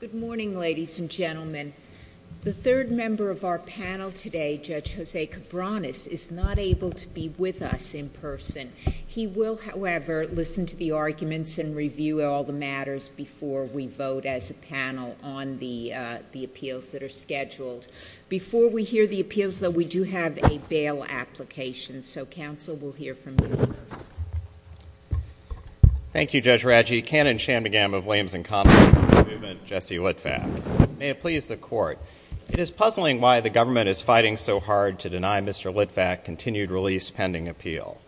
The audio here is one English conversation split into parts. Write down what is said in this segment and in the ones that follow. Good morning, ladies and gentlemen. The third member of our panel today, Judge Jose Cabranes, is not able to be with us in person. He will, however, listen to the arguments and review all the matters before we vote as a panel on the appeals that are scheduled. Before we hear the appeals, though, we do have a bail application, so counsel will hear from you first. Thank you, Judge Raggi. The canon shamingam of lames and convicts in the movement, Jesse Litvack. May it please the Court. It is puzzling why the government is fighting so hard to deny Mr. Litvack continued release pending appeal.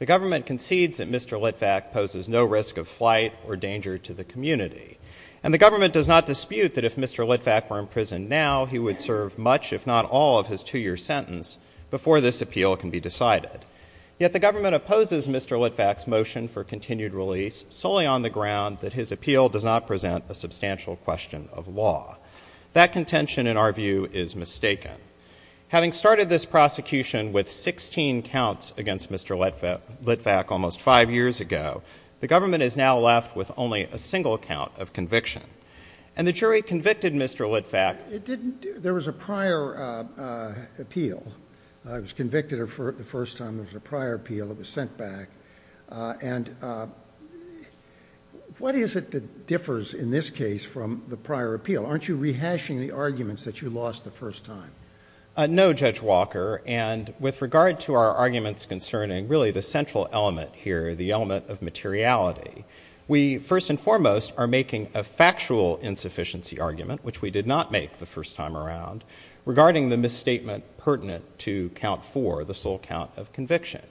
The government concedes that Mr. Litvack poses no risk of flight or danger to the community, and the government does not dispute that if Mr. Litvack were in prison now, he would serve much, if not all, of his two-year sentence before this appeal can be decided. Yet the government opposes Mr. Litvack's motion for continued release, solely on the ground that his appeal does not present a substantial question of law. That contention, in our view, is mistaken. Having started this prosecution with 16 counts against Mr. Litvack almost five years ago, the government is now left with only a single count of conviction. And the jury convicted Mr. Litvack... It didn't... There was a prior appeal. I was convicted the first time there was a prior appeal. I was sent back. And what is it that differs in this case from the prior appeal? Aren't you rehashing the arguments that you lost the first time? No, Judge Walker. And with regard to our arguments concerning really the central element here, the element of materiality, we first and foremost are making a factual insufficiency argument, which we did not make the first time around, regarding the misstatement pertinent to count four, the sole count of conviction.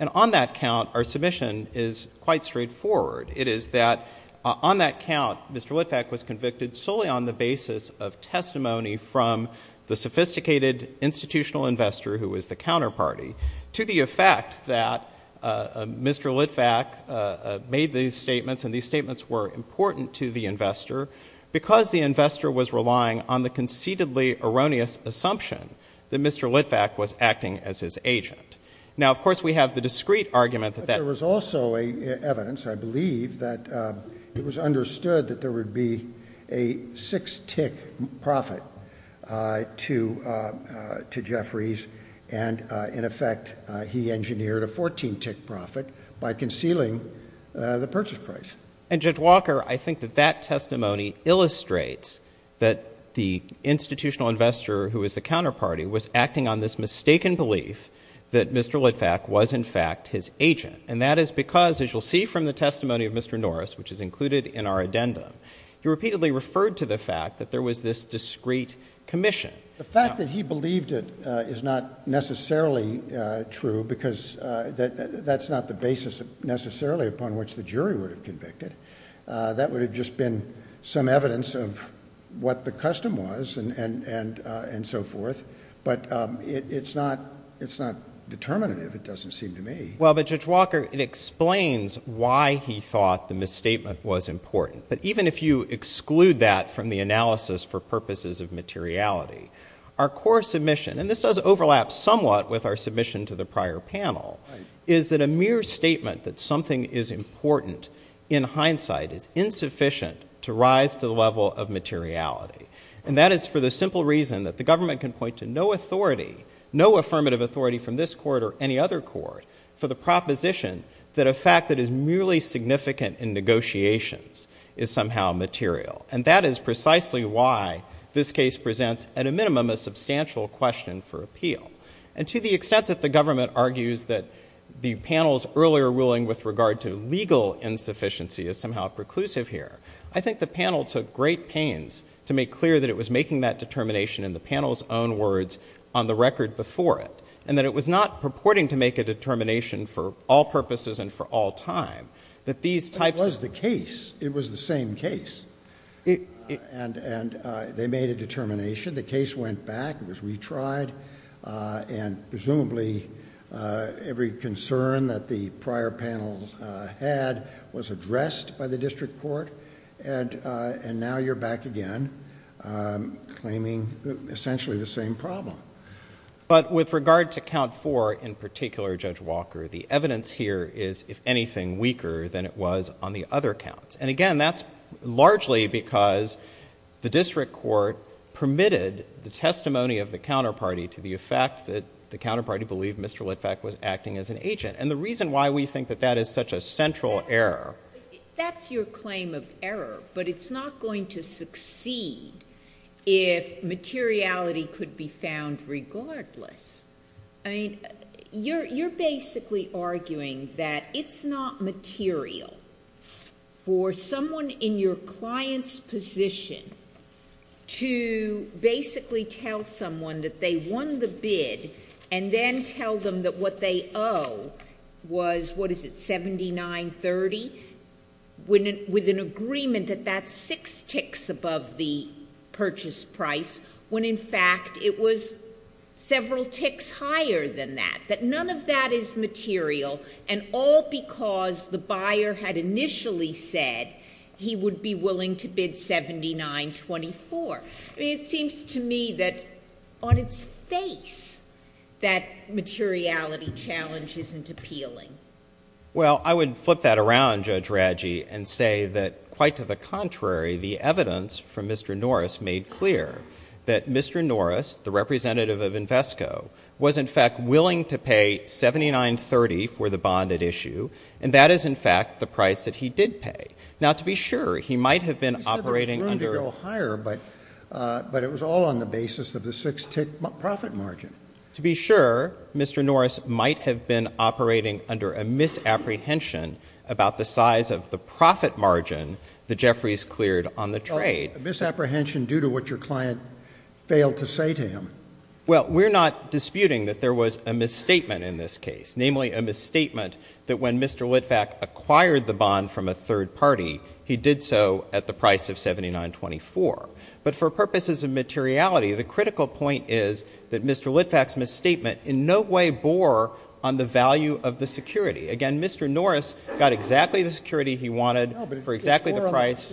And on that count, our submission is quite straightforward. It is that on that count, Mr. Litvack was convicted solely on the basis of testimony from the sophisticated institutional investor who was the counterparty, to the effect that Mr. Litvack made these statements, and these statements were important to the investor, because the investor was relying on the conceitedly erroneous assumption that Mr. Litvack was acting as his agent. Now, of course, we have the discreet argument that that... But there was also evidence, I believe, that it was understood that there would be a six-tick profit to Jeffrey's, and in effect, he engineered a 14-tick profit by concealing the purchase price. And Judge Walker, I think that that testimony illustrates that the institutional investor who was the counterparty was acting on this mistaken belief that Mr. Litvack was, in fact, his agent. And that is because, as you'll see from the testimony of Mr. Norris, which is included in our addendum, he repeatedly referred to the fact that there was this discreet commission. The fact that he believed it is not necessarily true, because that's not the basis necessarily upon which the jury would have convicted. That would have just been some evidence of what the custom was and so forth. But it's not determinative, it doesn't seem to me. Well, but Judge Walker, it explains why he thought the misstatement was important. But even if you exclude that from the analysis for purposes of materiality, our core submission — and this does overlap somewhat with our submission to the prior panel — is that a mere statement that something is important in hindsight is insufficient to rise to the question of materiality. And that is for the simple reason that the government can point to no authority, no affirmative authority from this court or any other court, for the proposition that a fact that is merely significant in negotiations is somehow material. And that is precisely why this case presents, at a minimum, a substantial question for appeal. And to the extent that the government argues that the panel's earlier ruling with regard to legal insufficiency is somehow preclusive here, I think the panel took great pains to make clear that it was making that determination in the panel's own words on the record before it, and that it was not purporting to make a determination for all purposes and for all time, that these types of — It was the case. It was the same case. And they made a determination. The case went back. It was retried. And presumably every concern that the prior panel had was addressed by the district court. And now you're back again claiming essentially the same problem. But with regard to count four in particular, Judge Walker, the evidence here is, if anything, weaker than it was on the other counts. And again, that's largely because the district court permitted the testimony of the counterparty to the effect that the counterparty believed Mr. Litvak was acting as an agent. And the reason why we think that that is such a central error — That's your claim of error. But it's not going to succeed if materiality could be found regardless. I mean, you're basically arguing that it's not material for someone in your client's position to basically tell someone that they won the bid and then tell them that what they owe was — what is it? — $79.30, with an agreement that that's six ticks above the purchase price, when in fact it was several ticks higher than that, that none of that is material, and all because the buyer had initially said he would be willing to bid $79.24. I mean, it seems to me that on its face that materiality challenge isn't appealing. Well, I would flip that around, Judge Radji, and say that quite to the contrary, the evidence from Mr. Norris made clear that Mr. Norris, the representative of Invesco, was in fact willing to pay $79.30 for the bond at issue, and that is in fact the price that he did pay. Now, to be sure, he might have been operating under — You said it was going to go higher, but it was all on the basis of the six-tick profit margin. To be sure, Mr. Norris might have been operating under a misapprehension about the size of the profit margin that Jeffries cleared on the trade. A misapprehension due to what your client failed to say to him. Well, we're not disputing that there was a misstatement in this case, namely a misstatement that when Mr. Litvak acquired the bond from a third party, he did so at the price of $79.24. But for purposes of materiality, the critical point is that Mr. Litvak's misstatement in no way bore on the value of the security. Again, Mr. Norris got exactly the security he wanted for exactly the price —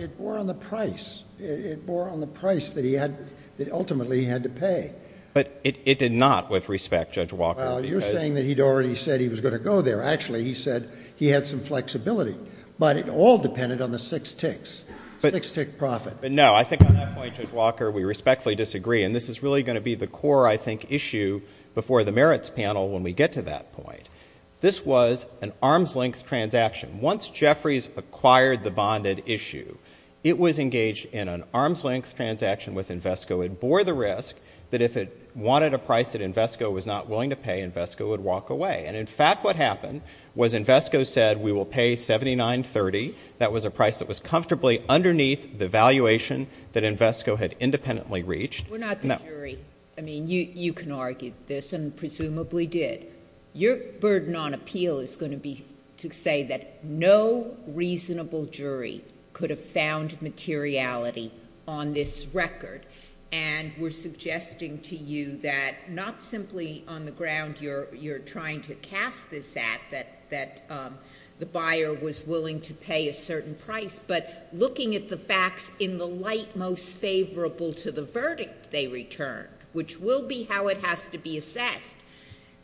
But it did not, with respect, Judge Walker, because — Well, you're saying that he'd already said he was going to go there. Actually, he said he had some flexibility. But it all depended on the six ticks. Six-tick profit. But no, I think on that point, Judge Walker, we respectfully disagree. And this is really going to be the core, I think, issue before the merits panel when we get to that point. This was an arm's-length transaction. Once Jeffries acquired the bonded issue, it was a price that Invesco was not willing to pay. Invesco would walk away. And in fact, what happened was Invesco said, we will pay $79.30. That was a price that was comfortably underneath the valuation that Invesco had independently reached. We're not the jury. I mean, you can argue this, and presumably did. Your burden on appeal is going to be to say that no reasonable jury could have found materiality on this record. And we're suggesting to you that not simply on the ground you're trying to cast this at, that the buyer was willing to pay a certain price, but looking at the facts in the light most favorable to the verdict they returned, which will be how it has to be assessed,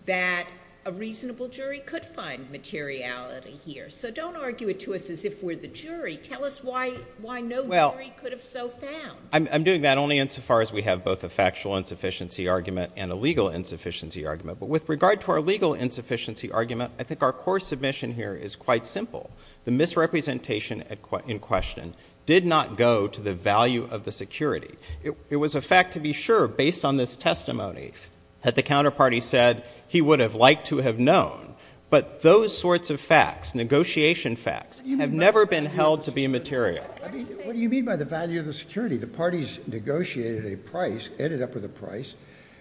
that a reasonable jury could find materiality here. So don't argue it to us as if we're the jury. Tell us why no jury could have so found. I'm doing that only insofar as we have both a factual insufficiency argument and a legal insufficiency argument. But with regard to our legal insufficiency argument, I think our core submission here is quite simple. The misrepresentation in question did not go to the value of the security. It was a fact to be sure, based on this testimony, that the counterparty said he would have liked to have known. But those sorts of facts, negotiation facts, have never been held to be material. What do you mean by the value of the security? The parties negotiated a price, ended up with a price,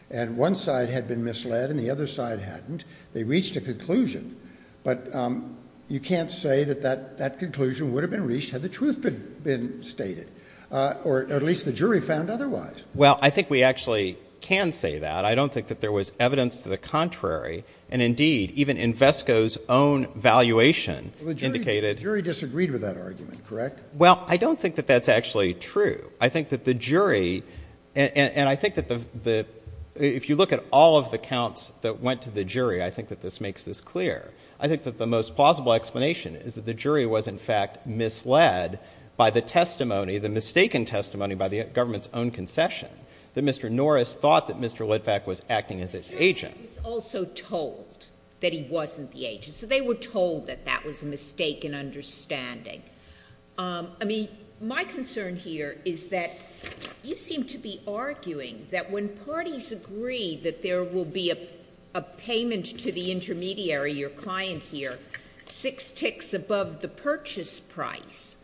and one side had been misled and the other side hadn't. They reached a conclusion. But you can't say that that conclusion would have been reached had the truth been stated, or at least the jury found otherwise. Well, I think we actually can say that. I don't think that there was evidence to the contrary. And indeed, even Invesco's own valuation indicated... The jury disagreed with that argument, correct? Well, I don't think that that's actually true. I think that the jury, and I think that if you look at all of the counts that went to the jury, I think that this makes this clear. I think that the most plausible explanation is that the jury was, in fact, misled by the testimony, the mistaken testimony by the government's own concession, that Mr. Norris thought that Mr. Litvak was acting as its agent. The jury was also told that he wasn't the agent. So they were told that that was a mistaken understanding. I mean, my concern here is that you seem to be arguing that when parties agree that there will be a payment to the intermediary, your client here, six ticks above the purchase price,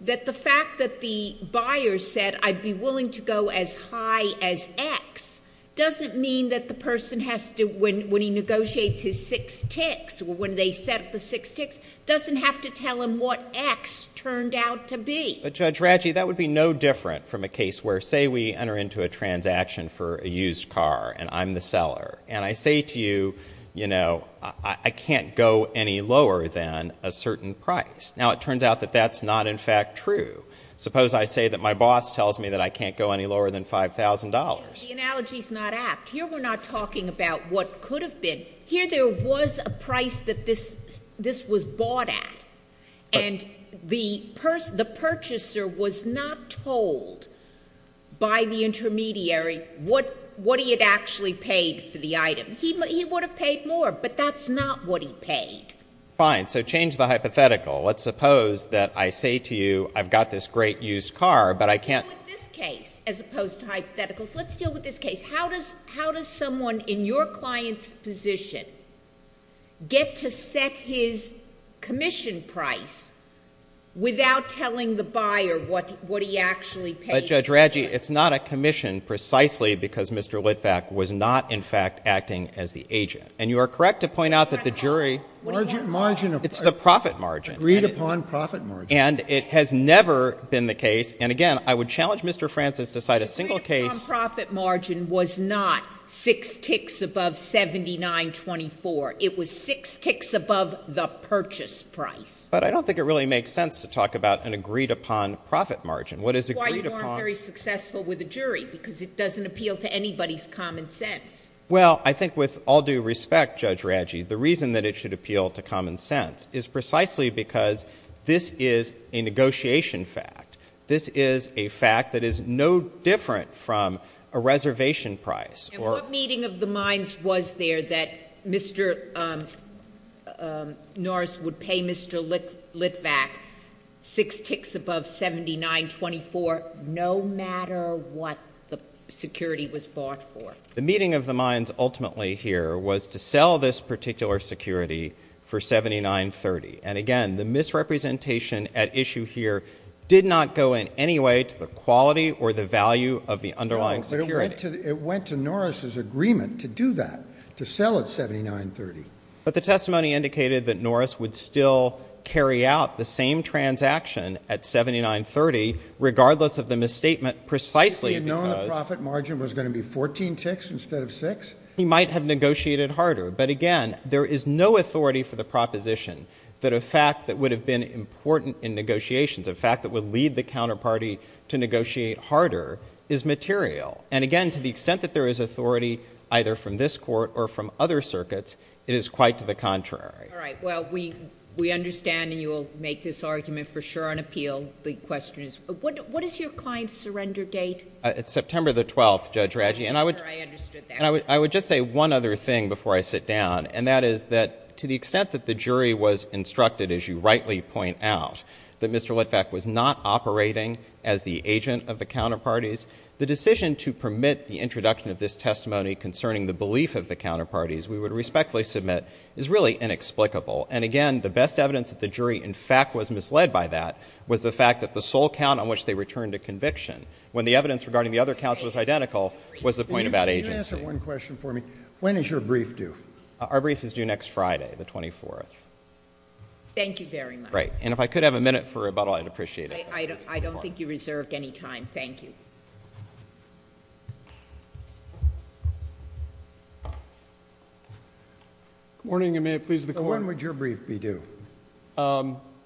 that the fact that the buyer said, I'd be willing to go as high as X, doesn't mean that the person has to, when he negotiates his six ticks or when they set up the six ticks, doesn't have to tell him what X turned out to be. But Judge Ratchey, that would be no different from a case where, say, we enter into a transaction for a used car and I'm the seller. And I say to you, you know, I can't go any lower than a certain price. Now, it turns out that that's not, in fact, true. Suppose I say that my boss tells me that I can't go any lower than $5,000. The analogy's not apt. Here we're not talking about what could have been. Here there was a price that this was bought at. And the purchaser was not told by the intermediary what he had actually paid for the item. He would have paid more, but that's not what he paid. Fine. So change the hypothetical. Let's suppose that I say to you, I've got this great used car, but I can't Let's deal with this case as opposed to hypotheticals. Let's deal with this case. How does someone in your client's position get to set his commission price without telling the buyer what he actually paid? But Judge Ratchey, it's not a commission precisely because Mr. Litvack was not, in fact, acting as the agent. And you are correct to point out that the jury Margin of It's the profit margin Agreed upon profit margin And it has never been the case. And again, I would challenge Mr. Francis to cite a single case The agreed upon profit margin was not six ticks above $79.24. It was six ticks above the purchase price. But I don't think it really makes sense to talk about an agreed upon profit margin. What is agreed upon That's why you weren't very successful with the jury because it doesn't appeal to anybody's common sense. Well I think with all due respect, Judge Ratchey, the reason that it should appeal to common sense is precisely because this is a negotiation fact. This is a fact that is no different from a reservation price. And what meeting of the minds was there that Mr. Norris would pay Mr. Litvack six ticks above $79.24 no matter what the security was bought for? The meeting of the minds ultimately here was to sell this particular security for $79.30. And again, the misrepresentation at issue here did not go in any way to the quality or the value of the underlying security. It went to Norris' agreement to do that, to sell at $79.30. But the testimony indicated that Norris would still carry out the same transaction at $79.30 regardless of the misstatement precisely because He had known the profit margin was going to be 14 ticks instead of six. He might have negotiated harder. But again, there is no authority for the proposition that a fact that would have been important in negotiations, a fact that would lead the party is material. And again, to the extent that there is authority either from this court or from other circuits, it is quite to the contrary. All right. Well, we understand and you will make this argument for sure on appeal. The question is, what is your client's surrender date? September the 12th, Judge Raggi. And I would just say one other thing before I sit down, and that is that to the extent that the jury was instructed, as you rightly point out, that Mr. Litvack was not operating as the agent of the counterparties, the decision to permit the introduction of this testimony concerning the belief of the counterparties we would respectfully submit is really inexplicable. And again, the best evidence that the jury, in fact, was misled by that was the fact that the sole count on which they returned a conviction, when the evidence regarding the other counts was identical, was the point about agency. Can you answer one question for me? When is your brief due? Our brief is due next Friday, the 24th. Thank you very much. Right. And if I could have a minute for rebuttal, I'd appreciate it. I don't think you reserved any time. Thank you. Good morning, and may it please the Court. When would your brief be due?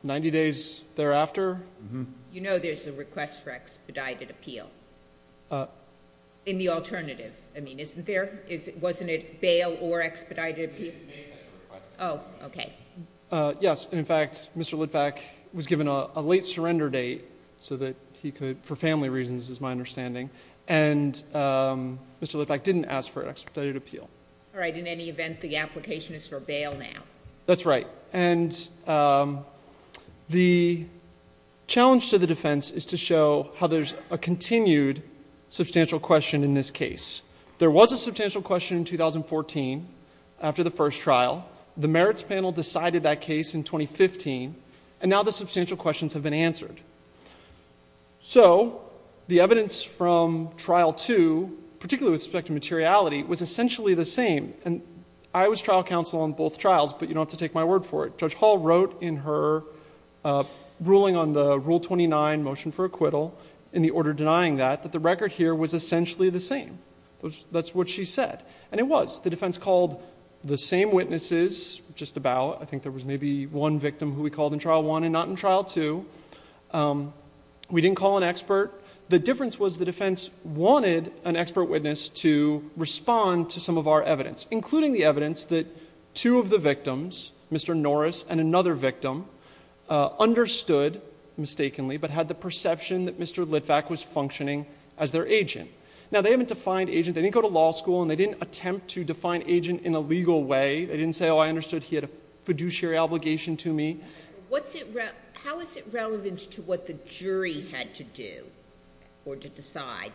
Ninety days thereafter. You know there's a request for expedited appeal. In the alternative, I mean, isn't there? Wasn't it bail or expedited appeal? Oh, OK. Yes, and in fact, Mr. Litvack was given a late surrender date so that he could, for family reasons is my understanding, and Mr. Litvack didn't ask for expedited appeal. All right. In any event, the application is for bail now. That's right. And the challenge to the defense is to show how there's a continued substantial question in this case. There was a substantial question in 2014 after the first trial. The merits panel decided that case in 2015, and now the substantial questions have been answered. So the evidence from trial two, particularly with respect to materiality, was essentially the same. And I was trial counsel on both trials, but you don't have to take my word for it. Judge Hall wrote in her ruling on the Rule 29 motion for acquittal, in the order denying that, that the record here was essentially the same. That's what she said. And it was. The defense called the same witnesses, just about. I think there was maybe one victim who we called in trial one and not in trial two. We didn't call an expert. The difference was the defense wanted an expert witness to respond to some of our evidence, including the evidence that two of the victims, Mr. Norris and another victim, understood mistakenly, but had the perception that Mr. Litvack was functioning as their agent. Now, they haven't defined agent. They didn't go to law school, and they didn't attempt to define agent in a legal way. They didn't say, oh, I understood he had a fiduciary obligation to me. What's it, how is it relevant to what the jury had to do or to decide,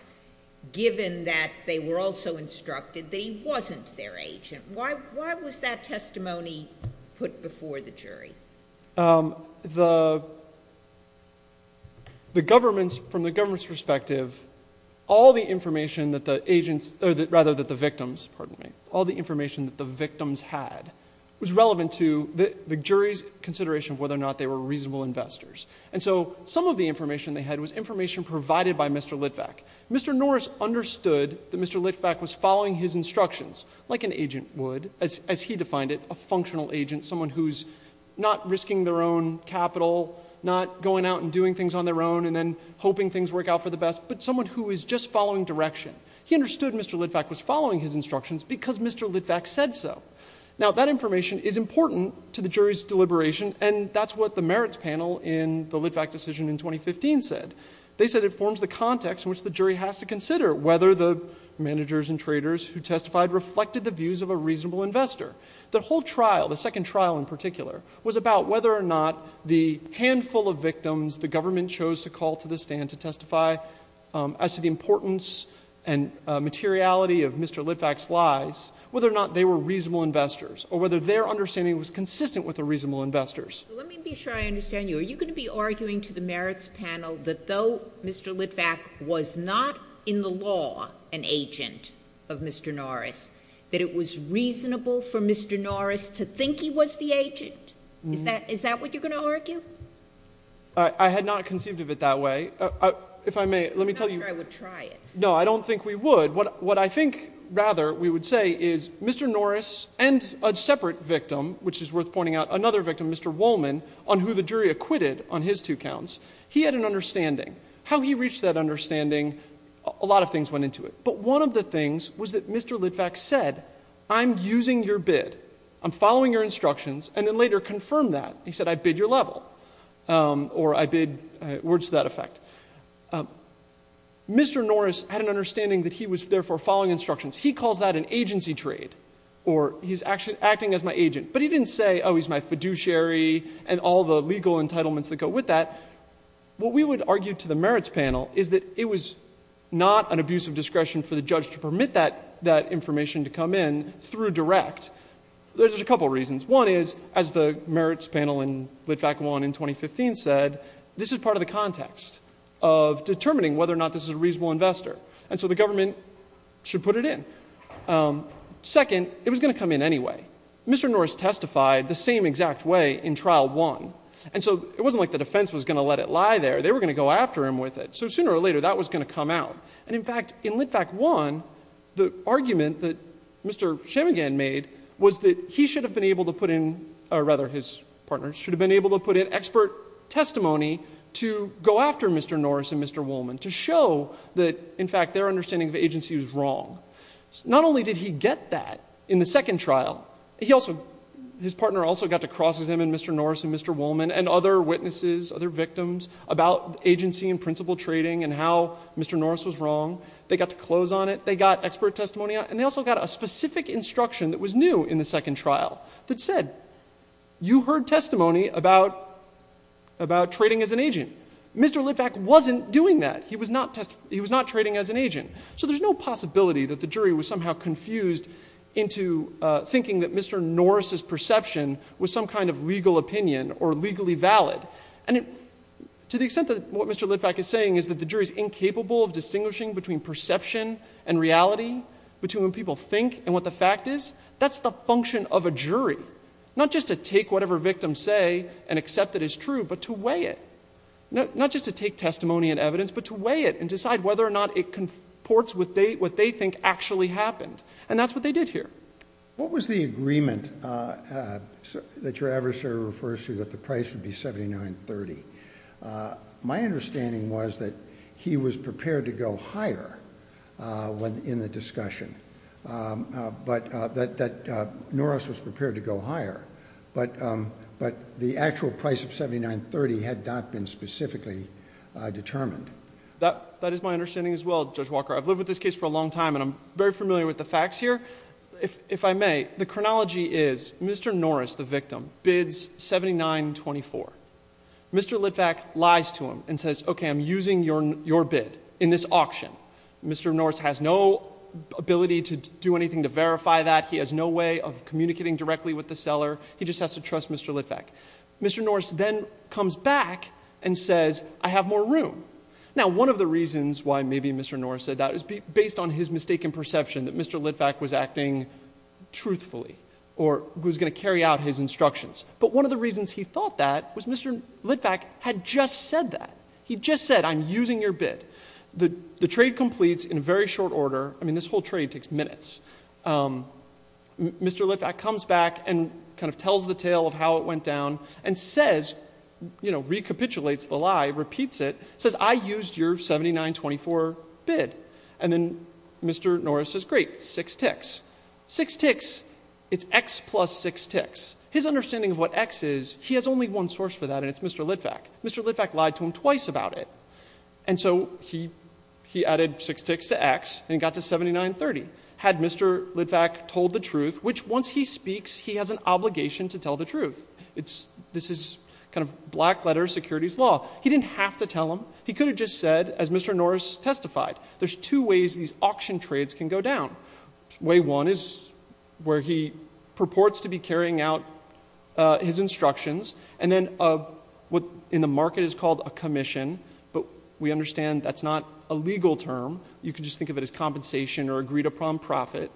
given that they were also instructed that he wasn't their agent? Why, why was that testimony put before the jury? The, the government's, from the government's perspective, all the information that the agents, or rather that the victims, pardon me, all the information that the victims had was relevant to the jury's consideration of whether or not they were reasonable investors. And so, some of the information they had was information provided by Mr. Litvack. Mr. Norris understood that Mr. Litvack was following his instructions, like an agent would, as, as he defined it, a functional agent, someone who's not risking their own capital, not going out and doing things on their own, and then hoping things work out for the best, but someone who is just following direction. He understood Mr. Litvack was following his instructions because Mr. Litvack said so. Now, that information is important to the jury's deliberation, and that's what the merits panel in the Litvack decision in 2015 said. They said it forms the context in which the jury has to consider whether the managers and traders who testified reflected the views of a reasonable investor. The whole trial, the second trial in particular, was about whether or not the handful of victims the government chose to call to the stand to testify as to the importance and materiality of Mr. Litvack's lies, whether or not they were reasonable investors, or whether their understanding was consistent with the reasonable investors. Let me be sure I understand you. Are you going to be arguing to the merits panel that though Mr. Litvack was not in the law an agent of Mr. Norris, that it was reasonable for Mr. Norris to think he was the agent? Is that what you're going to argue? I had not conceived of it that way. If I may, let me tell you. I'm not sure I would try it. No, I don't think we would. What I think, rather, we would say is Mr. Norris and a separate victim, which is worth pointing out, another victim, Mr. Wolman, on who the jury acquitted on his two counts, he had an understanding. How he reached that understanding, a lot of things went into it. But one of the things was that Mr. Litvack said, I'm using your bid. I'm following your instructions, and then later confirmed that. He said, I bid your level, or I bid words to that effect. Mr. Norris had an understanding that he was, therefore, following instructions. He calls that an agency trade, or he's acting as my agent. But he didn't say, oh, he's my fiduciary and all the legal entitlements that go with that. What we would argue to the merits panel is that it was not an abuse of discretion for the judge to permit that information to come in through direct. There's a couple of reasons. One is, as the merits panel in Litvack won in 2015 said, this is part of the context of determining whether or not this is a reasonable investor. And so the government should put it in. Second, it was going to come in anyway. Mr. Norris testified the same exact way in trial one. And so it wasn't like the defense was going to let it lie there. They were going to go after him with it. So sooner or later, that was going to come out. And in fact, in Litvack won, the argument that Mr. Chemeghan made was that he should have been able to put in, or rather, his partner should have been able to put in expert testimony to go after Mr. Norris and Mr. Woolman to show that, in fact, their understanding of agency was wrong. Not only did he get that in the second trial, he also, his partner also got to Mr. Norris and Mr. Woolman and other witnesses, other victims about agency and principle trading and how Mr. Norris was wrong. They got to close on it. They got expert testimony on it. And they also got a specific instruction that was new in the second trial that said, you heard testimony about trading as an agent. Mr. Litvack wasn't doing that. He was not trading as an agent. So there's no possibility that the jury was somehow confused into thinking that Mr. Norris's perception was some kind of legal opinion or legally valid. And to the extent that what Mr. Litvack is saying is that the jury is incapable of distinguishing between perception and reality between when people think and what the fact is, that's the function of a jury, not just to take whatever victims say and accept that as true, but to weigh it, not just to take testimony and evidence, but to weigh it and decide whether or not it can ports with what they think actually happened. And that's what they did here. What was the agreement that your adversary refers to that the price would be $79.30? My understanding was that he was prepared to go higher in the discussion, but that Norris was prepared to go higher, but the actual price of $79.30 had not been specifically determined. That is my understanding as well, Judge Walker. I've lived with this case for a long time and I'm very familiar with the facts here. If I may, the chronology is Mr. Norris, the victim, bids $79.24. Mr. Litvack lies to him and says, okay, I'm using your bid in this auction. Mr. Norris has no ability to do anything to verify that. He has no way of communicating directly with the seller. He just has to trust Mr. Litvack. Mr. Norris then comes back and says, I have more room. Now, one of the reasons why maybe Mr. Norris said that is based on his mistaken perception that Mr. Litvack was acting truthfully or was going to carry out his instructions. But one of the reasons he thought that was Mr. Litvack had just said that. He just said, I'm using your bid. The trade completes in very short order. I mean, this whole trade takes minutes. Mr. Litvack comes back and kind of tells the tale of how it went down and says, you know, recapitulates the lie, repeats it, says I used your $79.24 bid. And then Mr. Norris says, great, six ticks, six ticks. It's X plus six ticks. His understanding of what X is. He has only one source for that. And it's Mr. Litvack. Mr. Litvack lied to him twice about it. And so he, he added six ticks to X and got to 79.30. Had Mr. Litvack told the truth, which once he speaks, he has an obligation to tell the truth. It's, this is kind of black letter securities law. He didn't have to tell him he could have just said as Mr. Norris testified. There's two ways these auction trades can go down. Way one is where he purports to be carrying out his instructions. And then, uh, what in the market is called a commission, but we understand that's not a legal term. You can just think of it as compensation or agreed upon profit.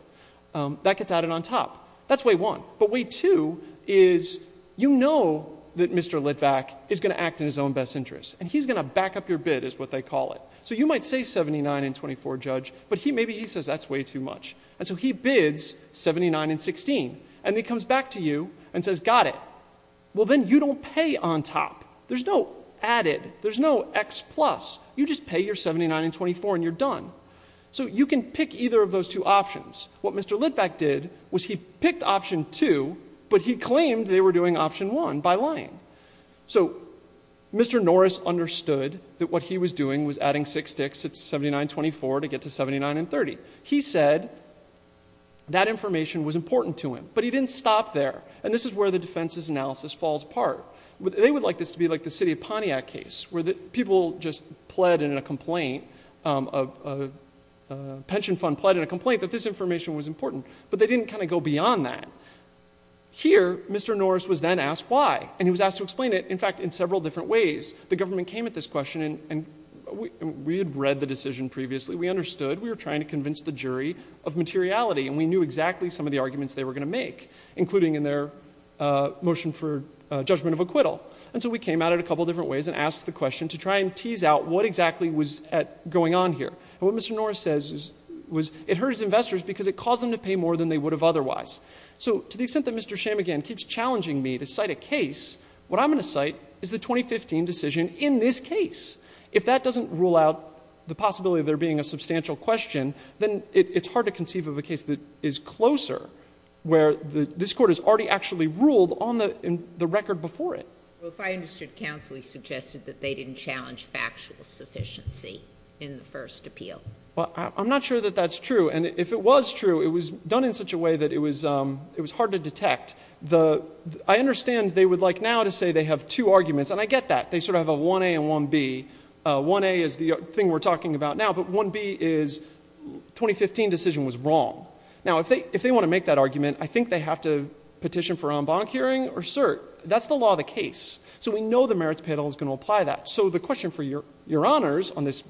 Um, that gets added on top that's way one. But way two is, you know, that Mr. Litvack is going to act in his own best interest and he's going to back up your bid is what they call it. So you might say 79 and 24 judge, but he, maybe he says that's way too much. And so he bids 79 and 16 and he comes back to you and says, got it. Well, then you don't pay on top. There's no added, there's no X plus you just pay your 79 and 24 and you're done. So you can pick either of those two options. What Mr. Litvack did was he picked option two, but he claimed they were doing option one by So Mr. Norris understood that what he was doing was adding six sticks. It's 79, 24 to get to 79 and 30. He said that information was important to him, but he didn't stop there. And this is where the defense's analysis falls apart. They would like this to be like the city of Pontiac case where people just pled in a complaint, um, a pension fund pled in a complaint that this information was important, but they didn't kind of go beyond that here. Mr. Norris was then asked why, and he was asked to explain it. In fact, in several different ways, the government came at this question and we had read the decision previously, we understood we were trying to convince the jury of materiality and we knew exactly some of the arguments they were going to make, including in their, uh, motion for a judgment of acquittal. And so we came out at a couple of different ways and asked the question to try and tease out what exactly was going on here and what Mr. Norris says was it hurt his investors because it caused them to pay more than they would have otherwise. So to the extent that Mr. Shamegain keeps challenging me to cite a case, what I'm going to cite is the 2015 decision in this case. If that doesn't rule out the possibility of there being a substantial question, then it's hard to conceive of a case that is closer where the, this court has already actually ruled on the, in the record before it. Well, if I understood counsel, he suggested that they didn't challenge factual sufficiency in the first appeal. Well, I'm not sure that that's true. And if it was true, it was done in such a way that it was, um, it was hard to detect the, I understand they would like now to say they have two arguments and I get that they sort of have a 1A and 1B. Uh, 1A is the thing we're talking about now, but 1B is 2015 decision was wrong. Now, if they, if they want to make that argument, I think they have to petition for en banc hearing or cert. That's the law of the case. So we know the merits panel is going to apply that. So the question for your, your honors on this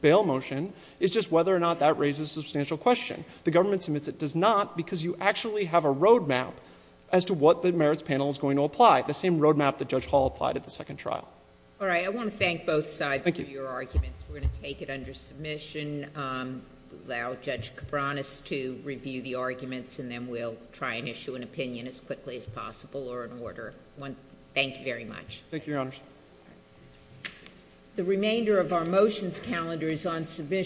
bail motion is just whether or not that raises a substantial question. The government submits it does not because you actually have a roadmap as to what the merits panel is going to apply. The same roadmap that judge Hall applied at the second trial. All right. I want to thank both sides for your arguments. We're going to take it under submission. Um, allow judge Cabranes to review the arguments and then we'll try and issue an opinion as quickly as possible or in order one. Thank you very much. Thank you, your honors. The remainder of our motions calendar is on submission.